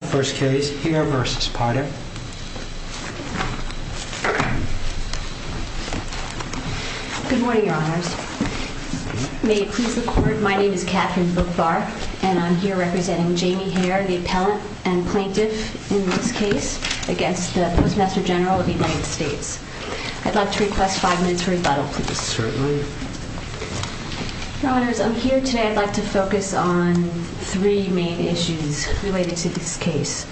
Good morning, Your Honors. May it please the Court, my name is Katherine Bookbar, and I am here representing Jamie Hare, the appellant and plaintiff in this case against the Postmaster General of the United States. I'd like to request five minutes for rebuttal, please. Certainly. Your Honors, I'm here today, I'd like to focus on three main issues related to this case.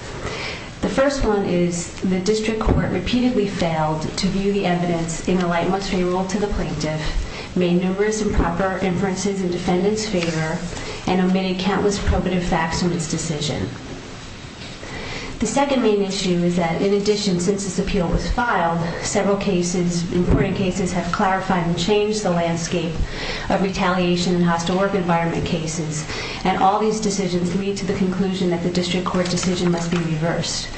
The first one is the District Court repeatedly failed to view the evidence in a light monetary rule to the plaintiff, made numerous improper inferences in defendant's favor, and omitted countless probative facts from its decision. The second main issue is that, in addition, since this appeal was filed, several cases, important cases, have clarified and changed the landscape of retaliation and hostile work environment cases, and all these decisions lead to the conclusion that the District Court decision must be reversed.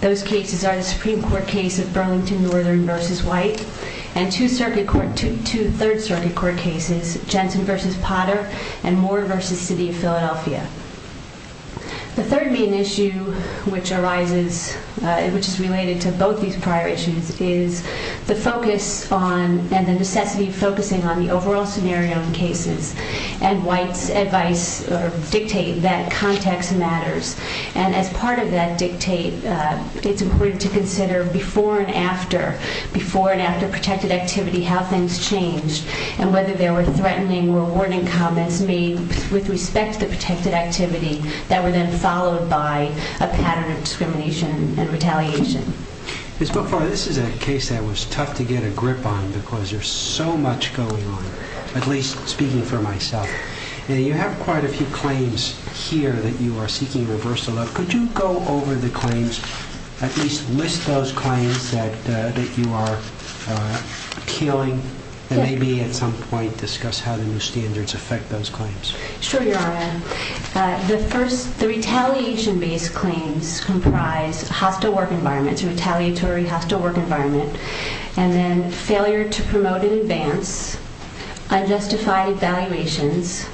Those cases are the Supreme Court case of Burlington Northern v. White, and two Third Circuit Court cases, Jensen v. Potter and Moore v. City of Philadelphia. The third main issue, which arises, which is related to both these prior issues, is the focus on, and the necessity of focusing on, the overall scenario in cases. And White's advice, or dictate, that context matters. And as part of that dictate, it's important to consider before and after, before and after protected activity, how things changed, and whether there were threatening or warning comments made with respect to the protected activity that were then followed by a pattern of discrimination and retaliation. Ms. McFarland, this is a case that was tough to get a grip on, because there's so much going on, at least speaking for myself. You have quite a few claims here that you are seeking reversal of. Could you go over the claims, at least list those claims that you are appealing, and maybe at some point discuss how the new standards affect those claims? Sure, Your Honor. The first, the retaliation-based claims comprise hostile work environments, retaliatory hostile work environment, and then failure to promote in advance, unjustified evaluations,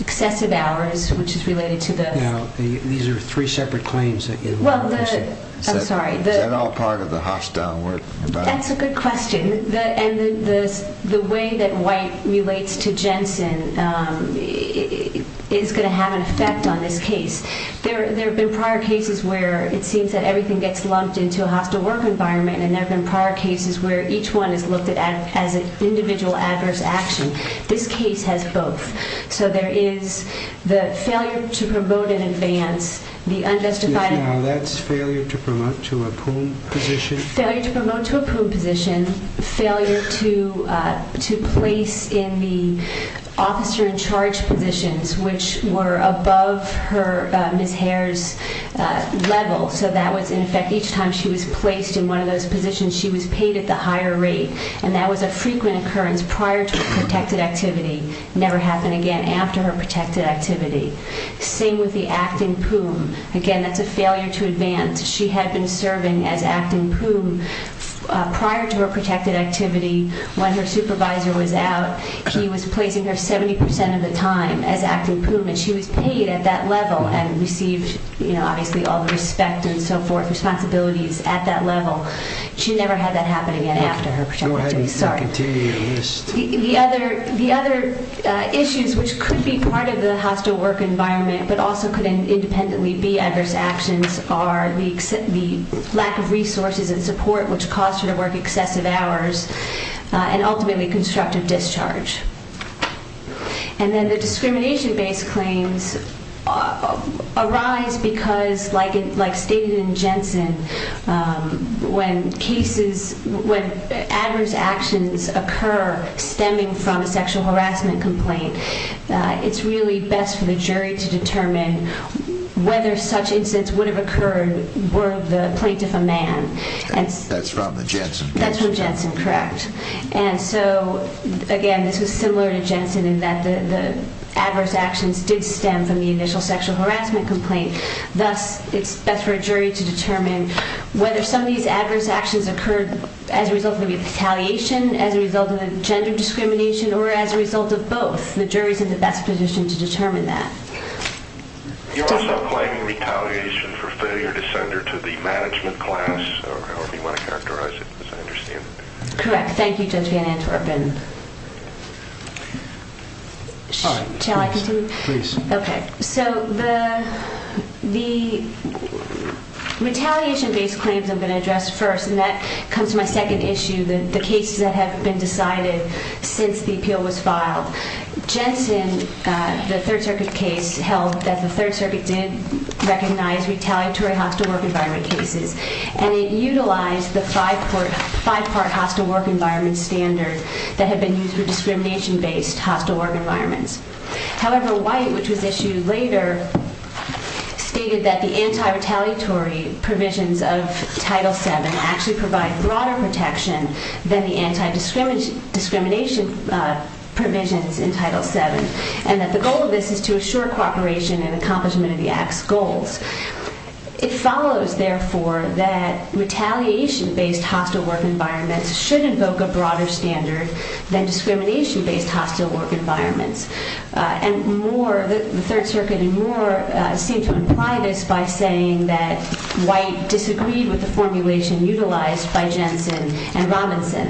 excessive hours, which is related to the- Now, these are three separate claims that you're- Well, the- I'm sorry, the- Is that all part of the hostile work environment? That's a good question, and the way that White relates to Jensen is going to have an effect on this case. There have been prior cases where it seems that everything gets lumped into a hostile work environment, and there have been prior cases where each one is looked at as an individual adverse action. This case has both. So there is the failure to promote in advance, the unjustified- Yes, Your Honor, that's failure to promote to a pool position. Failure to promote to a pool position, failure to place in the officer-in-charge positions, which were above Ms. Hare's level. So that was, in effect, each time she was placed in one of those positions, she was paid at the higher rate, and that was a frequent occurrence prior to a protected activity, never happened again after her protected activity. Same with the acting poom. Again, that's a failure to advance. She had been serving as acting poom prior to her protected activity. When her supervisor was out, he was placing her 70 percent of the time as acting poom, and she was paid at that level and received, you know, obviously all the respect and so forth, responsibilities at that level. She never had that happen again after her protected activity. Go ahead and continue your list. The other issues which could be part of the hostile work environment but also could independently be adverse actions are the lack of resources and support which caused her to work excessive hours and ultimately constructive discharge. And then the discrimination-based claims arise because, like stated in Jensen, when adverse actions occur stemming from a sexual harassment complaint, it's really best for the jury to determine whether such incidents would have occurred were the plaintiff a man. That's from the Jensen case. That's from Jensen, correct. And so, again, this was similar to Jensen in that the adverse actions did stem from the initial sexual harassment complaint. Thus, it's best for a jury to determine whether some of these adverse actions occurred as a result of retaliation, as a result of gender discrimination, or as a result of both. The jury's in the best position to determine that. You're also claiming retaliation for failure to send her to the management class, or however you want to characterize it, as I understand it. Correct. Thank you, Judge Van Antwerpen. Shall I continue? Please. Okay. So the retaliation-based claims I'm going to address first, and that comes to my second issue, the cases that have been decided since the appeal was filed. Jensen, the Third Circuit case, held that the Third Circuit did recognize retaliatory hostile work environment cases, and it utilized the five-part hostile work environment standard that had been used for discrimination-based hostile work environments. However, White, which was issued later, stated that the anti-retaliatory provisions of Title VII actually provide broader protection than the anti-discrimination provisions in Title VII, and that the goal of this is to assure cooperation and accomplishment of the Act's goals. It follows, therefore, that retaliation-based hostile work environments should invoke a broader standard than discrimination-based hostile work environments. And the Third Circuit, in more, seemed to imply this by saying that White disagreed with the formulation utilized by Jensen and Robinson.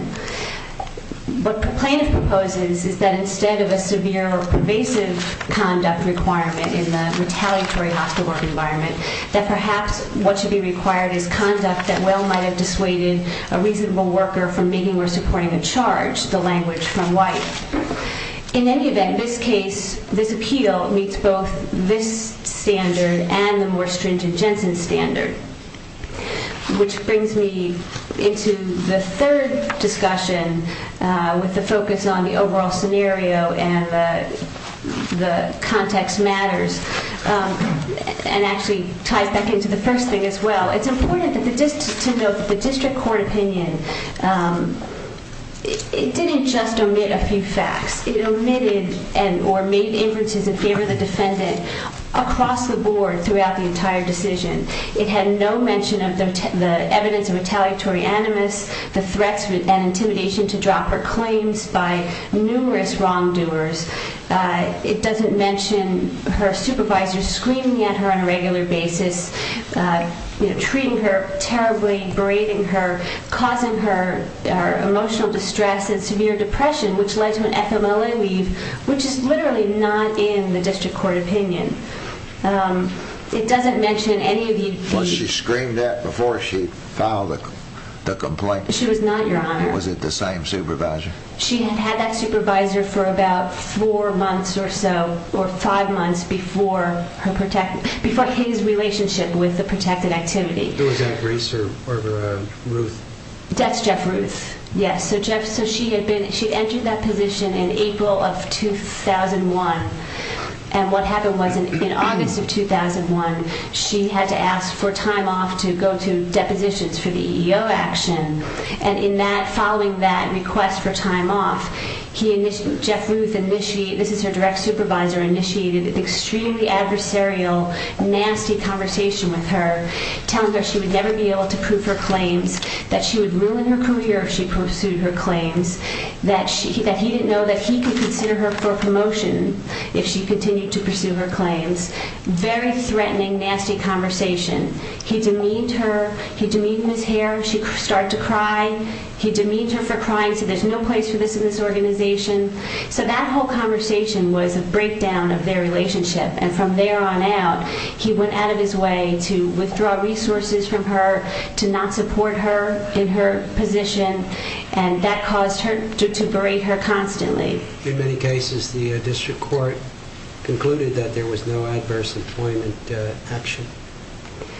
What the plaintiff proposes is that instead of a severe or pervasive conduct requirement in the retaliatory hostile work environment, that perhaps what should be required is conduct that well might have dissuaded a reasonable worker from being or supporting a charge, the language from White. In any event, this case, this appeal, meets both this standard and the more stringent Jensen standard, which brings me into the third discussion with the focus on the overall scenario and the context matters, and actually ties back into the first thing as well. It's important to note that the district court opinion didn't just omit a few facts. It omitted or made inferences in favor of the defendant across the board throughout the entire decision. It had no mention of the evidence of retaliatory animus, the threats and intimidation to drop her claims by numerous wrongdoers. It doesn't mention her supervisor screaming at her on a regular basis, treating her terribly, berating her, causing her emotional distress and severe depression, which led to an FMLA leave, which is literally not in the district court opinion. It doesn't mention any of the... Was she screamed at before she filed the complaint? She was not, Your Honor. Was it the same supervisor? She had had that supervisor for about four months or so, or five months, before his relationship with the protected activity. Was that Bruce or Ruth? That's Jeff Ruth, yes. So she had entered that position in April of 2001, and what happened was in August of 2001, she had to ask for time off to go to depositions for the EEO action. And in that... Following that request for time off, he initiated... Jeff Ruth initiated... This is her direct supervisor, initiated an extremely adversarial, nasty conversation with her, telling her she would never be able to prove her claims, that she would ruin her career if she pursued her claims, that he didn't know that he could consider her for a promotion if she continued to pursue her claims. Very threatening, nasty conversation. He demeaned her. He demeaned Ms. Hare. She started to cry. He demeaned her for crying, said there's no place for this in this organization. So that whole conversation was a breakdown of their relationship, and from there on out, he went out of his way to withdraw resources from her, to not support her in her position, and that caused her to berate her constantly. In many cases, the district court concluded that there was no adverse employment action.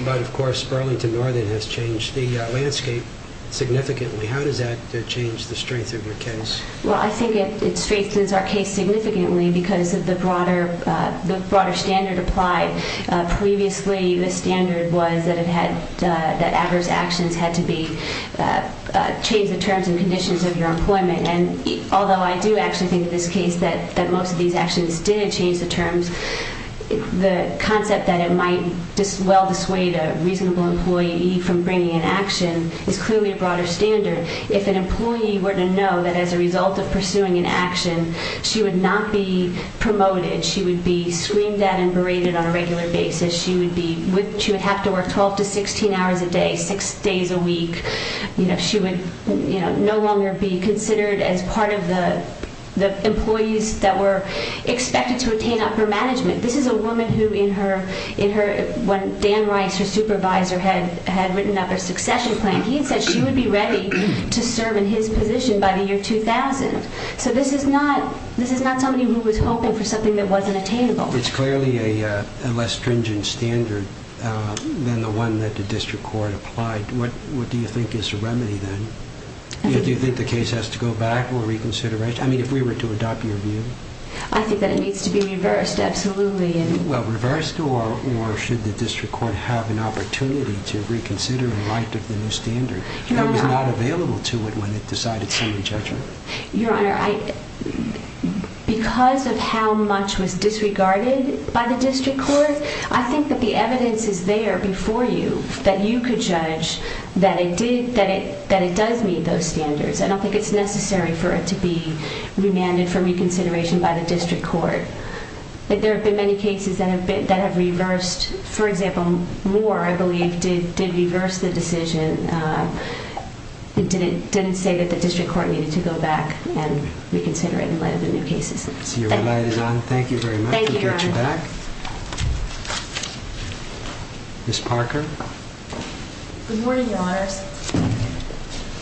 But, of course, Burlington Northern has changed the landscape significantly. How does that change the strength of your case? Well, I think it strengthens our case significantly because of the broader standard applied. Previously, the standard was that it had... that adverse actions had to be... change the terms and conditions of your employment. And although I do actually think in this case that most of these actions didn't change the terms, the concept that it might well dissuade a reasonable employee from bringing an action is clearly a broader standard. If an employee were to know that as a result of pursuing an action, she would not be promoted. She would be screamed at and berated on a regular basis. She would be... she would have to work 12 to 16 hours a day, six days a week. You know, she would, you know, no longer be considered as part of the employees that were expected to attain upper management. This is a woman who, in her... when Dan Rice, her supervisor, had written up her succession plan, he said she would be ready to serve in his position by the year 2000. So this is not... this is not somebody who was hoping for something that wasn't attainable. It's clearly a less stringent standard than the one that the district court applied. What do you think is the remedy, then? Do you think the case has to go back or reconsideration? I mean, if we were to adopt your view? I think that it needs to be reversed, absolutely. Well, reversed or should the district court have an opportunity to reconsider and write up the new standard? It was not available to it when it decided so in judgment. Your Honor, I... because of how much was disregarded by the district court, I think that the evidence is there before you that you could judge that it did... that it does meet those standards. I don't think it's necessary for it to be remanded for reconsideration by the district court. There have been many cases that have been... that have reversed. For example, Moore, I believe, did reverse the decision. It didn't... didn't say that the district court needed to go back and reconsider it in light of the new cases. Thank you. Thank you very much. Thank you, Your Honor. We'll get you back. Ms. Parker? Good morning, Your Honors.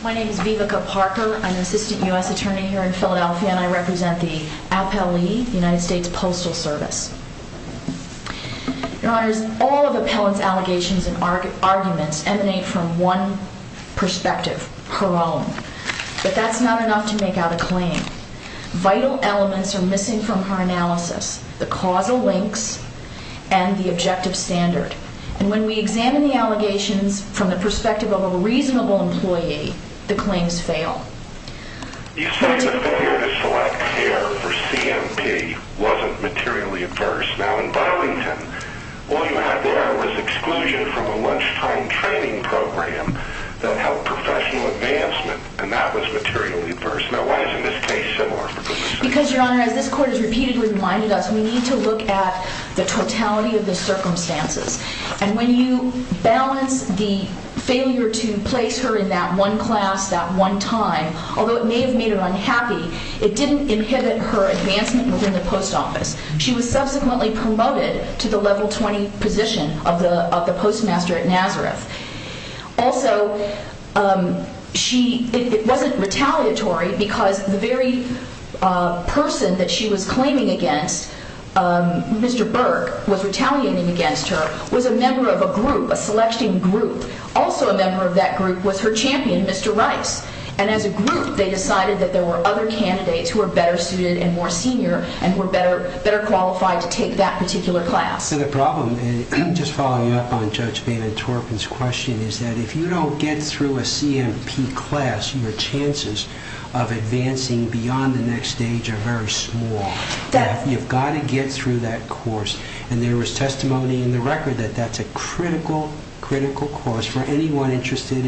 My name is Vivica Parker. I'm an assistant U.S. attorney here in Philadelphia, and I represent the appellee, the United States Postal Service. Your Honors, all of the appellant's allegations and arguments emanate from one perspective, her own. But that's not enough to make out a claim. Vital elements are missing from her analysis, the causal links and the objective standard. And when we examine the allegations from the perspective of a reasonable employee, the claims fail. Because, Your Honor, as this court has repeatedly reminded us, we need to look at the totality of the circumstances. And when you balance the failure to place her in that one class, that one time, although it may have made her unhappy, it didn't inhibit her advancement within the post office. She was subsequently promoted to the level 20 position of the postmaster at Nazareth. Also, it wasn't retaliatory because the very person that she was claiming against, Mr. Burke, was retaliating against her, was a member of a group, a selection group. Also a member of that group was her champion, Mr. Rice. And as a group, they decided that there were other candidates who were better suited and more senior and were better qualified to take that particular class. So the problem, just following up on Judge Van Antorpen's question, is that if you don't get through a CMP class, your chances of advancing beyond the next stage are very small. You've got to get through that course. And there was testimony in the record that that's a critical, critical course for anyone interested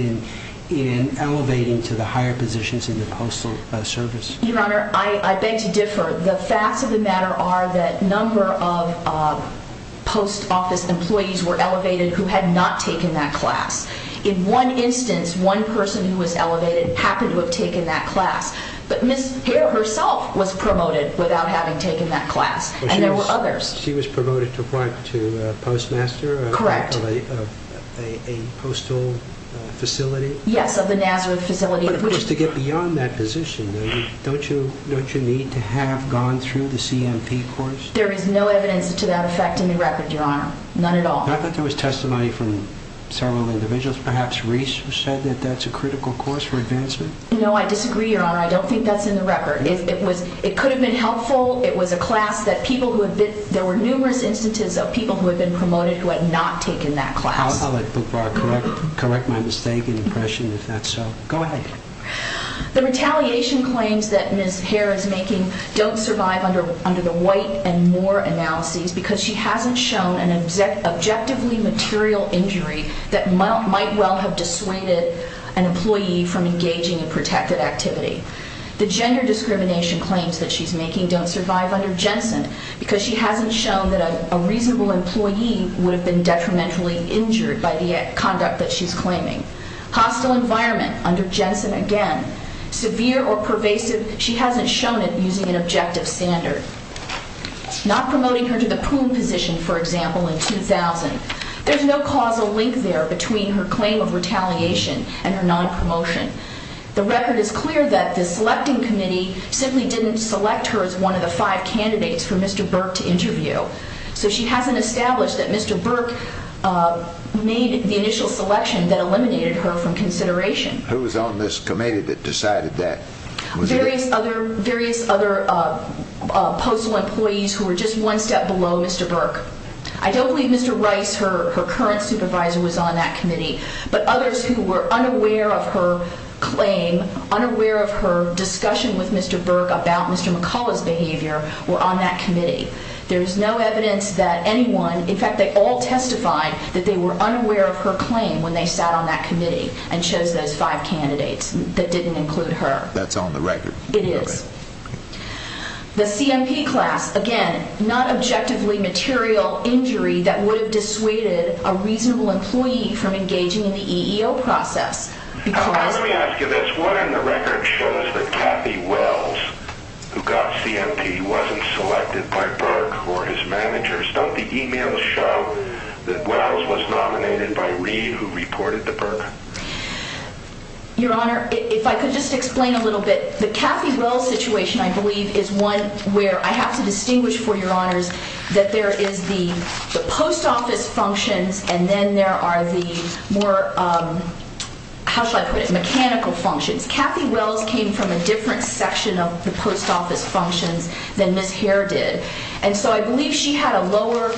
in elevating to the higher positions in the postal service. Your Honor, I beg to differ. The facts of the matter are that a number of post office employees were elevated who had not taken that class. In one instance, one person who was elevated happened to have taken that class. But Ms. Hare herself was promoted without having taken that class. And there were others. She was promoted to what? To postmaster? Correct. Of a postal facility? Yes, of the Nazareth facility. But of course, to get beyond that position, don't you need to have gone through the CMP course? There is no evidence to that effect in the record, Your Honor. None at all. I thought there was testimony from several individuals. Perhaps Reese said that that's a critical course for advancement? No, I disagree, Your Honor. I don't think that's in the record. It could have been helpful. It was a class that people who had been, there were numerous instances of people who had been promoted who had not taken that class. I'll let Bookbar correct my mistake and impression, if that's so. Go ahead. The retaliation claims that Ms. Hare is making don't survive under the White and Moore analyses because she hasn't shown an objectively material injury that might well have dissuaded an employee from engaging in protected activity. The gender discrimination claims that she's making don't survive under Jensen because she hasn't shown that a reasonable employee would have been detrimentally injured by the conduct that she's claiming. Hostile environment, under Jensen again. Severe or pervasive, she hasn't shown it using an objective standard. Not promoting her to the prune position, for example, in 2000. There's no causal link there between her claim of retaliation and her non-promotion. The record is clear that the selecting committee simply didn't select her as one of the five candidates for Mr. Burke to interview. So she hasn't established that Mr. Burke made the initial selection that eliminated her from consideration. Who was on this committee that decided that? Various other postal employees who were just one step below Mr. Burke. I don't believe Mr. Rice, her current supervisor, was on that committee. But others who were unaware of her claim, unaware of her discussion with Mr. Burke about Mr. McCullough's behavior, were on that committee. There's no evidence that anyone, in fact, they all testified that they were unaware of her claim when they sat on that committee and chose those five candidates that didn't include her. That's on the record. It is. The CMP class, again, not objectively material injury that would have dissuaded a reasonable employee from engaging in the EEO process because... Let me ask you this. What in the record shows that Kathy Wells, who got CMP, wasn't selected by Burke or his managers? Don't the emails show that Wells was nominated by Reid, who reported to Burke? Your Honor, if I could just explain a little bit. The Kathy Wells situation, I believe, is one where I have to distinguish for your honors that there is the post office functions and then there are the more, how should I put it, mechanical functions. Kathy Wells came from a different section of the post office functions than Ms. Hare did. And so I believe she had a lower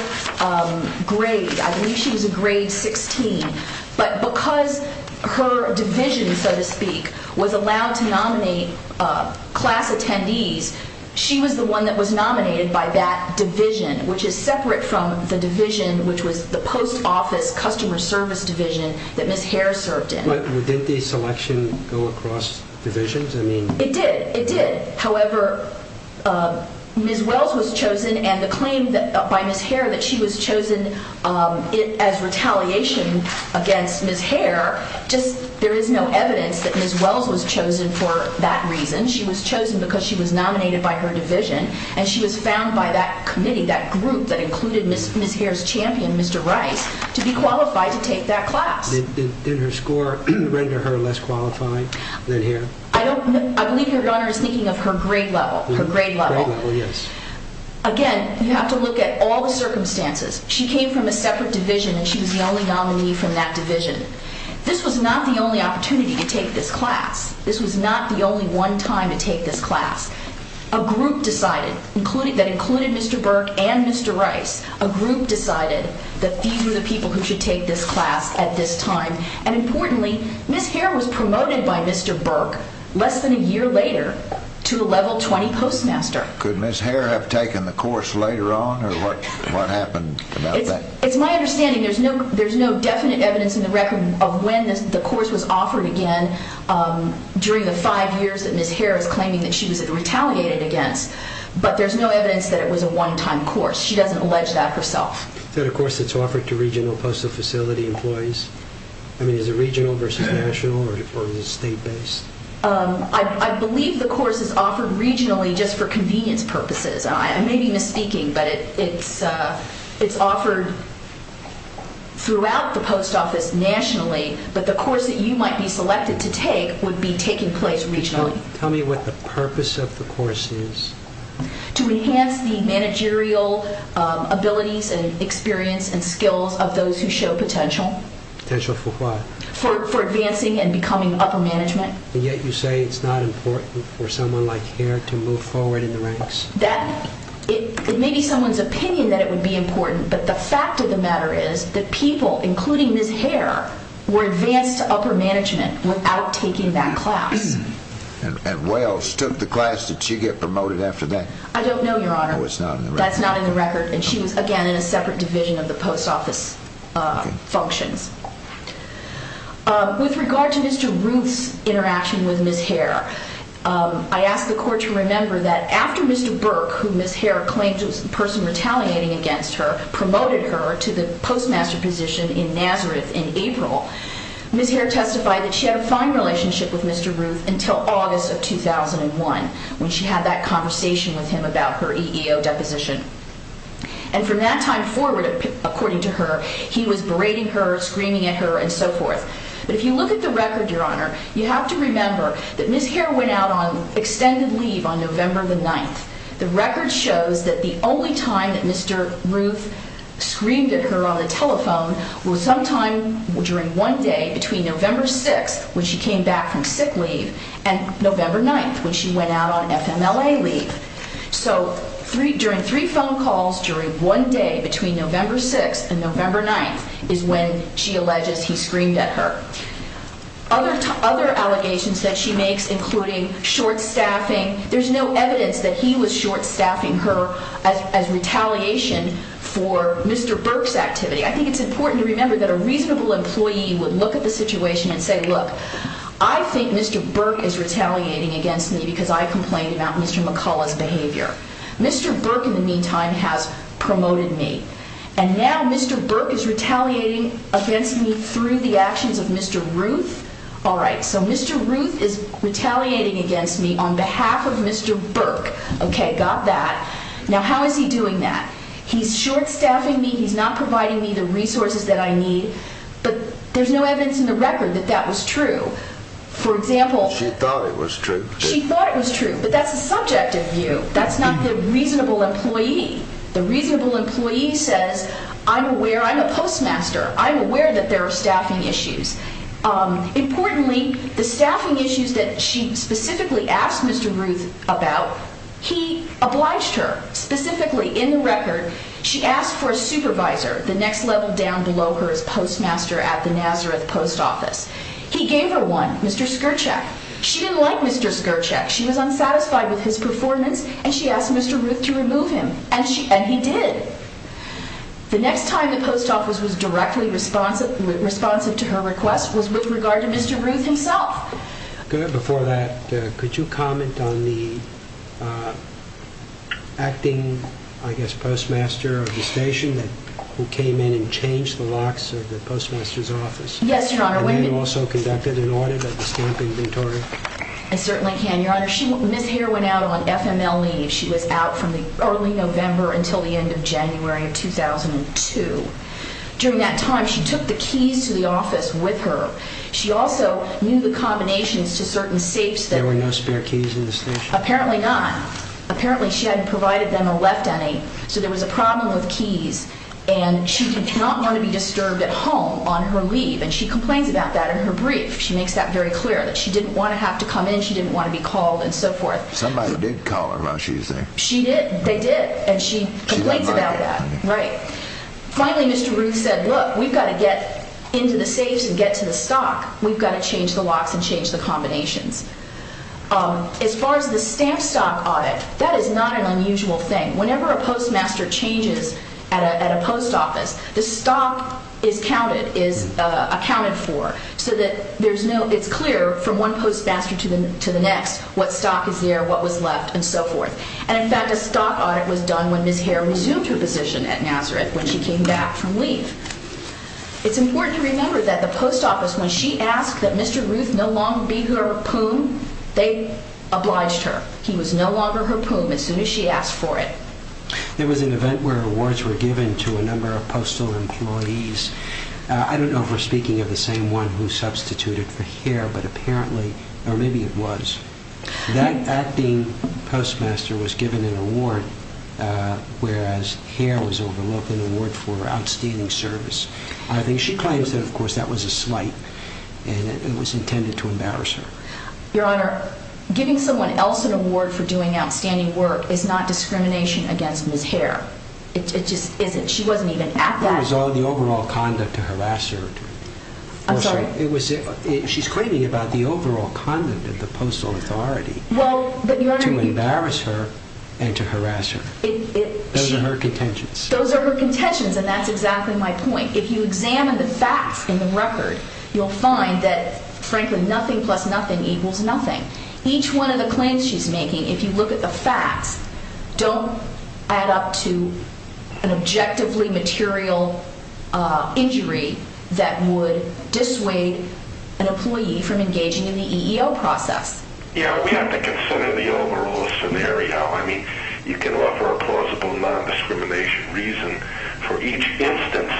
grade. I believe she was a grade 16. But because her division, so to speak, was allowed to nominate class attendees, she was the one that was nominated by that division, which is separate from the division, which was the post office customer service division that Ms. Hare served in. But didn't the selection go across divisions? It did. It did. However, Ms. Wells was chosen and the claim by Ms. Hare that she was chosen as retaliation against Ms. Hare, there is no evidence that Ms. Wells was chosen for that reason. She was chosen because she was nominated by her division. And she was found by that committee, that group that included Ms. Hare's champion, Mr. Rice, to be qualified to take that class. I believe Your Honor is thinking of her grade level. Her grade level, yes. Again, you have to look at all the circumstances. She came from a separate division and she was the only nominee from that division. This was not the only opportunity to take this class. This was not the only one time to take this class. A group decided, that included Mr. Burke and Mr. Rice, a group decided that these were the people who should take this class at this time. And importantly, Ms. Hare was promoted by Mr. Burke less than a year later to a level 20 postmaster. Could Ms. Hare have taken the course later on or what happened about that? It's my understanding there's no definite evidence in the record of when the course was offered again during the five years that Ms. Hare is claiming that she was retaliated against. But there's no evidence that it was a one time course. She doesn't allege that herself. Is that a course that's offered to regional postal facility employees? I mean, is it regional versus national or is it state based? I believe the course is offered regionally just for convenience purposes. I may be misspeaking, but it's offered throughout the post office nationally, but the course that you might be selected to take would be taking place regionally. Tell me what the purpose of the course is. To enhance the managerial abilities and experience and skills of those who show potential. Potential for what? For advancing and becoming upper management. And yet you say it's not important for someone like Hare to move forward in the ranks? It may be someone's opinion that it would be important, but the fact of the matter is that people, including Ms. Hare, were advanced to upper management without taking that class. And Wells took the class. Did she get promoted after that? I don't know, Your Honor. Oh, it's not in the record. That's not in the record. And she was, again, in a separate division of the post office functions. With regard to Mr. Ruth's interaction with Ms. Hare, I ask the court to remember that after Mr. Burke, who Ms. Hare claimed was the person retaliating against her, promoted her to the postmaster position in Nazareth in April, Ms. Hare testified that she had a fine relationship with Mr. Ruth until August of 2001, when she had that conversation with him about her EEO deposition. And from that time forward, according to her, he was berating her, screaming at her, and so forth. But if you look at the record, Your Honor, you have to remember that Ms. Hare went out on extended leave on November the 9th. The record shows that the only time that Mr. Ruth screamed at her on the telephone was sometime during one day between November 6th, when she came back from sick leave, and November 9th, when she went out on FMLA leave. So during three phone calls during one day between November 6th and November 9th is when she alleges he screamed at her. Other allegations that she makes, including short-staffing, there's no evidence that he was short-staffing her as retaliation for Mr. Burke's activity. I think it's important to remember that a reasonable employee would look at the situation and say, look, I think Mr. Burke is retaliating against me because I complained about Mr. McCullough's behavior. Mr. Burke, in the meantime, has promoted me. And now Mr. Burke is retaliating against me through the actions of Mr. Ruth? All right, so Mr. Ruth is retaliating against me on behalf of Mr. Burke. Okay, got that. Now how is he doing that? He's short-staffing me. He's not providing me the resources that I need. But there's no evidence in the record that that was true. For example, she thought it was true, but that's a subjective view. That's not the reasonable employee. The reasonable employee says, I'm aware I'm a postmaster. I'm aware that there are staffing issues. Importantly, the staffing issues that she specifically asked Mr. Ruth about, he obliged her specifically in the record. She asked for a supervisor, the next level down below her as postmaster at the Nazareth Post Office. He gave her one, Mr. Skirczak. She didn't like Mr. Skirczak. She was unsatisfied with his performance, and she asked Mr. Ruth to remove him, and he did. The next time the post office was directly responsive to her request was with regard to Mr. Ruth himself. Before that, could you comment on the acting, I guess, postmaster of the station who came in and changed the locks of the postmaster's office? Yes, Your Honor. And you also conducted an audit of the stamp inventory? I certainly can, Your Honor. Ms. Hare went out on FML leave. She was out from early November until the end of January of 2002. During that time, she took the keys to the office with her. She also knew the combinations to certain safes. There were no spare keys in the station? Apparently not. Apparently she hadn't provided them or left any. So there was a problem with keys, and she did not want to be disturbed at home on her leave, and she complains about that in her brief. She makes that very clear, that she didn't want to have to come in, she didn't want to be called, and so forth. Somebody did call her while she was there. She did. They did. And she complains about that. Right. Finally, Mr. Ruth said, look, we've got to get into the safes and get to the stock. We've got to change the locks and change the combinations. As far as the stamp stock audit, that is not an unusual thing. Whenever a postmaster changes at a post office, the stock is accounted for so that it's clear from one postmaster to the next what stock is there, what was left, and so forth. And, in fact, a stock audit was done when Ms. Hare resumed her position at Nazareth when she came back from leave. It's important to remember that the post office, when she asked that Mr. Ruth no longer be her poom, they obliged her. He was no longer her poom as soon as she asked for it. There was an event where awards were given to a number of postal employees. I don't know if we're speaking of the same one who substituted for Hare, but apparently, or maybe it was, that acting postmaster was given an award, whereas Hare was overlooked an award for outstanding service. I think she claims that, of course, that was a slight, and it was intended to embarrass her. Your Honor, giving someone else an award for doing outstanding work is not discrimination against Ms. Hare. It just isn't. She wasn't even at that. It was all the overall conduct to harass her. I'm sorry? She's claiming about the overall conduct of the postal authority to embarrass her and to harass her. Those are her contentions. Those are her contentions, and that's exactly my point. If you examine the facts in the record, you'll find that, frankly, nothing plus nothing equals nothing. Each one of the claims she's making, if you look at the facts, don't add up to an objectively material injury that would dissuade an employee from engaging in the EEO process. Yeah, we have to consider the overall scenario. I mean, you can offer a plausible non-discrimination reason for each instance,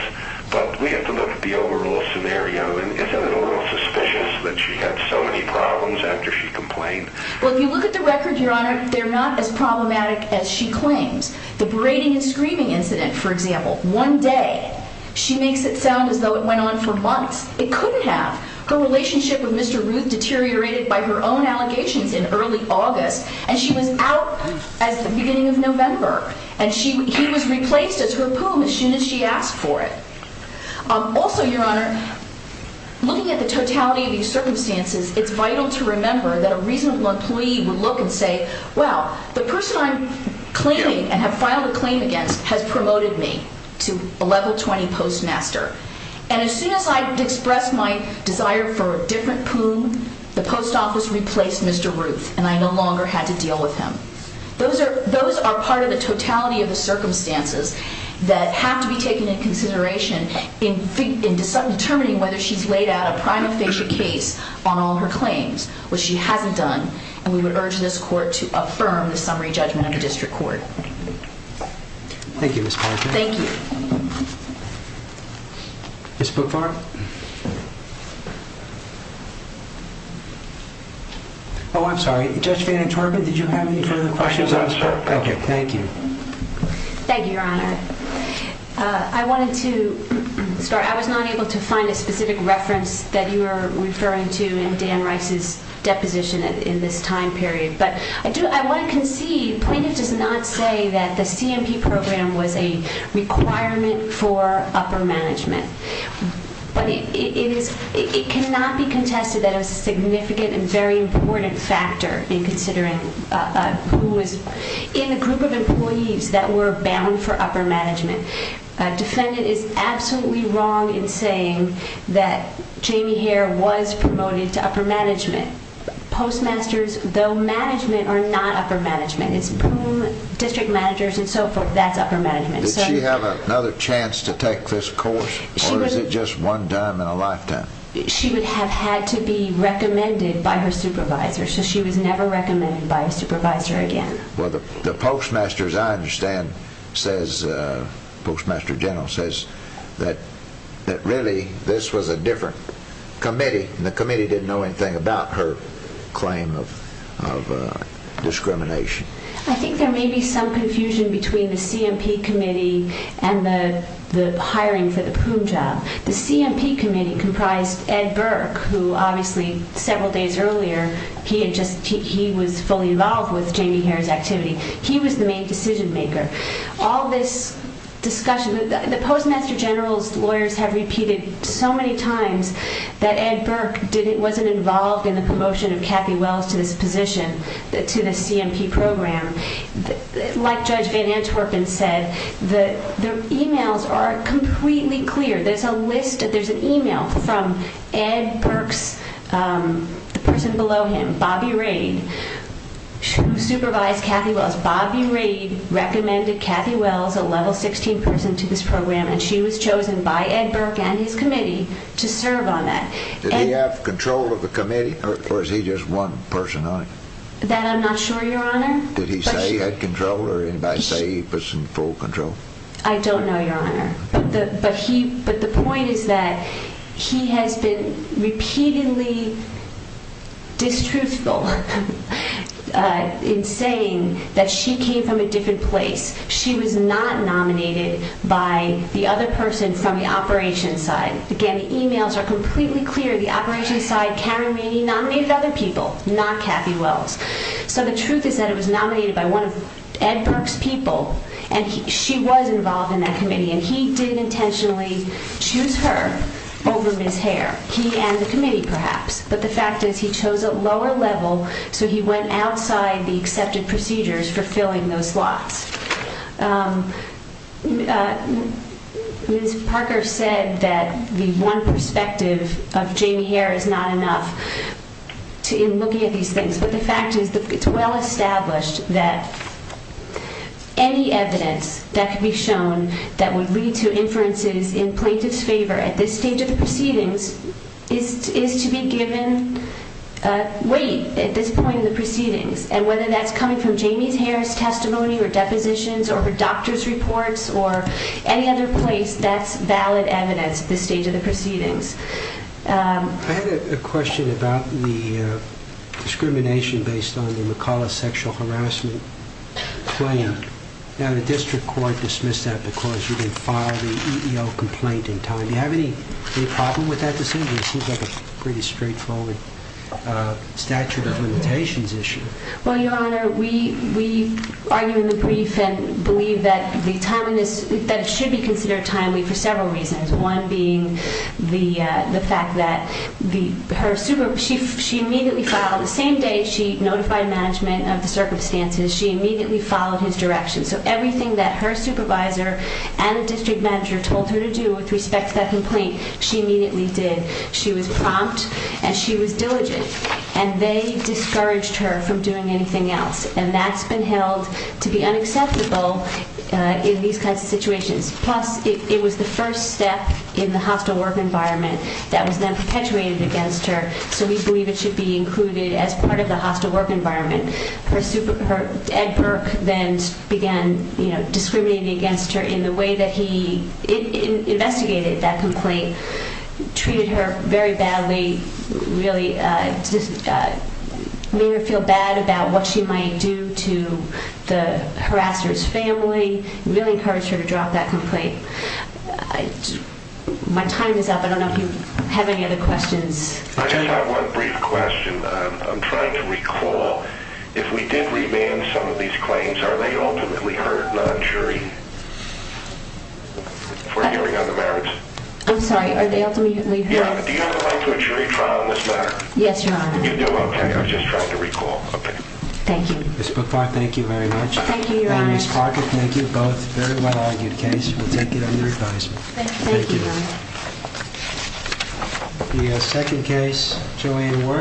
but we have to look at the overall scenario. Isn't it a little suspicious that she had so many problems after she complained? Well, if you look at the record, Your Honor, they're not as problematic as she claims. The berating and screaming incident, for example, one day, she makes it sound as though it went on for months. It couldn't have. Her relationship with Mr. Ruth deteriorated by her own allegations in early August, and she was out at the beginning of November, and he was replaced as her poom as soon as she asked for it. Also, Your Honor, looking at the totality of these circumstances, it's vital to remember that a reasonable employee would look and say, well, the person I'm claiming and have filed a claim against has promoted me to a level 20 postmaster, and as soon as I expressed my desire for a different poom, the post office replaced Mr. Ruth, and I no longer had to deal with him. Those are part of the totality of the circumstances that have to be taken into consideration in determining whether she's laid out a prima facie case on all her claims, which she hasn't done, and we would urge this court to affirm the summary judgment of the district court. Thank you, Ms. Parker. Thank you. Ms. Boockvar? Oh, I'm sorry. Judge VanTorpen, did you have any further questions? No, sir. Okay, thank you. Thank you, Your Honor. I wanted to start. I was not able to find a specific reference that you were referring to in Dan Rice's deposition in this time period, but I want to concede plaintiff does not say that the CMP program was a requirement for upper management, but it cannot be contested that it was a significant and very important factor in considering who was in the group of employees that were bound for upper management. Defendant is absolutely wrong in saying that Jamie Hare was promoted to upper management. Postmasters, though management, are not upper management. It's district managers and so forth. That's upper management. Did she have another chance to take this course, or is it just one time in a lifetime? She would have had to be recommended by her supervisor, so she was never recommended by a supervisor again. Well, the postmaster, as I understand, says, postmaster general says, that really this was a different committee, and the committee didn't know anything about her claim of discrimination. I think there may be some confusion between the CMP committee and the hiring for the PUM job. The CMP committee comprised Ed Burke, who obviously several days earlier, he was fully involved with Jamie Hare's activity. He was the main decision maker. All this discussion, the postmaster general's lawyers have repeated so many times that Ed Burke wasn't involved in the promotion of Kathy Wells to this position, to the CMP program. Like Judge Van Antwerpen said, the emails are completely clear. There's an email from Ed Burke's, the person below him, Bobby Rade, who supervised Kathy Wells. Bobby Rade recommended Kathy Wells, a level 16 person to this program, and she was chosen by Ed Burke and his committee to serve on that. Did he have control of the committee, or was he just one person on it? That I'm not sure, Your Honor. Did he say he had control, or did anybody say he was in full control? I don't know, Your Honor. But the point is that he has been repeatedly distruthful in saying that she came from a different place. She was not nominated by the other person from the operations side. Again, the emails are completely clear. The operations side, Karen Rainey nominated other people, not Kathy Wells. So the truth is that it was nominated by one of Ed Burke's people, and she was involved in that committee, and he did intentionally choose her over Ms. Hare. He and the committee, perhaps, but the fact is he chose a lower level, so he went outside the accepted procedures for filling those slots. Ms. Parker said that the one perspective of Jamie Hare is not enough in looking at these things, but the fact is that it's well established that any evidence that could be shown that would lead to inferences in plaintiff's favor at this stage of the proceedings is to be given weight at this point in the proceedings. And whether that's coming from Jamie Hare's testimony or depositions or her doctor's reports or any other place, that's valid evidence at this stage of the proceedings. I had a question about the discrimination based on the McCullough sexual harassment claim. Now, the district court dismissed that because you didn't file the EEO complaint in time. Do you have any problem with that decision? It seems like a pretty straightforward statute of limitations issue. Well, Your Honor, we argue in the brief and believe that it should be considered timely for several reasons, one being the fact that she immediately filed. The same day she notified management of the circumstances, she immediately followed his direction. So everything that her supervisor and the district manager told her to do with respect to that complaint, she immediately did. She was prompt and she was diligent, and they discouraged her from doing anything else. And that's been held to be unacceptable in these kinds of situations. Plus, it was the first step in the hostile work environment that was then perpetuated against her, so we believe it should be included as part of the hostile work environment. Ed Burke then began discriminating against her in the way that he investigated that complaint, treated her very badly, really made her feel bad about what she might do to the harasser's family, really encouraged her to drop that complaint. My time is up. I don't know if you have any other questions. I just have one brief question. I'm trying to recall. If we did remand some of these claims, are they ultimately heard non-jury for hearing on the merits? I'm sorry. Are they ultimately heard? Yeah. Do you have a right to a jury trial on this matter? Yes, Your Honor. You do? Okay. I was just trying to recall. Okay. Thank you. Ms. Bookbar, thank you very much. Thank you, Your Honor. And Ms. Parker, thank you. Both very well-argued cases. We'll take it under advisement. Thank you, Your Honor. Thank you. The second case, Joanne Ward.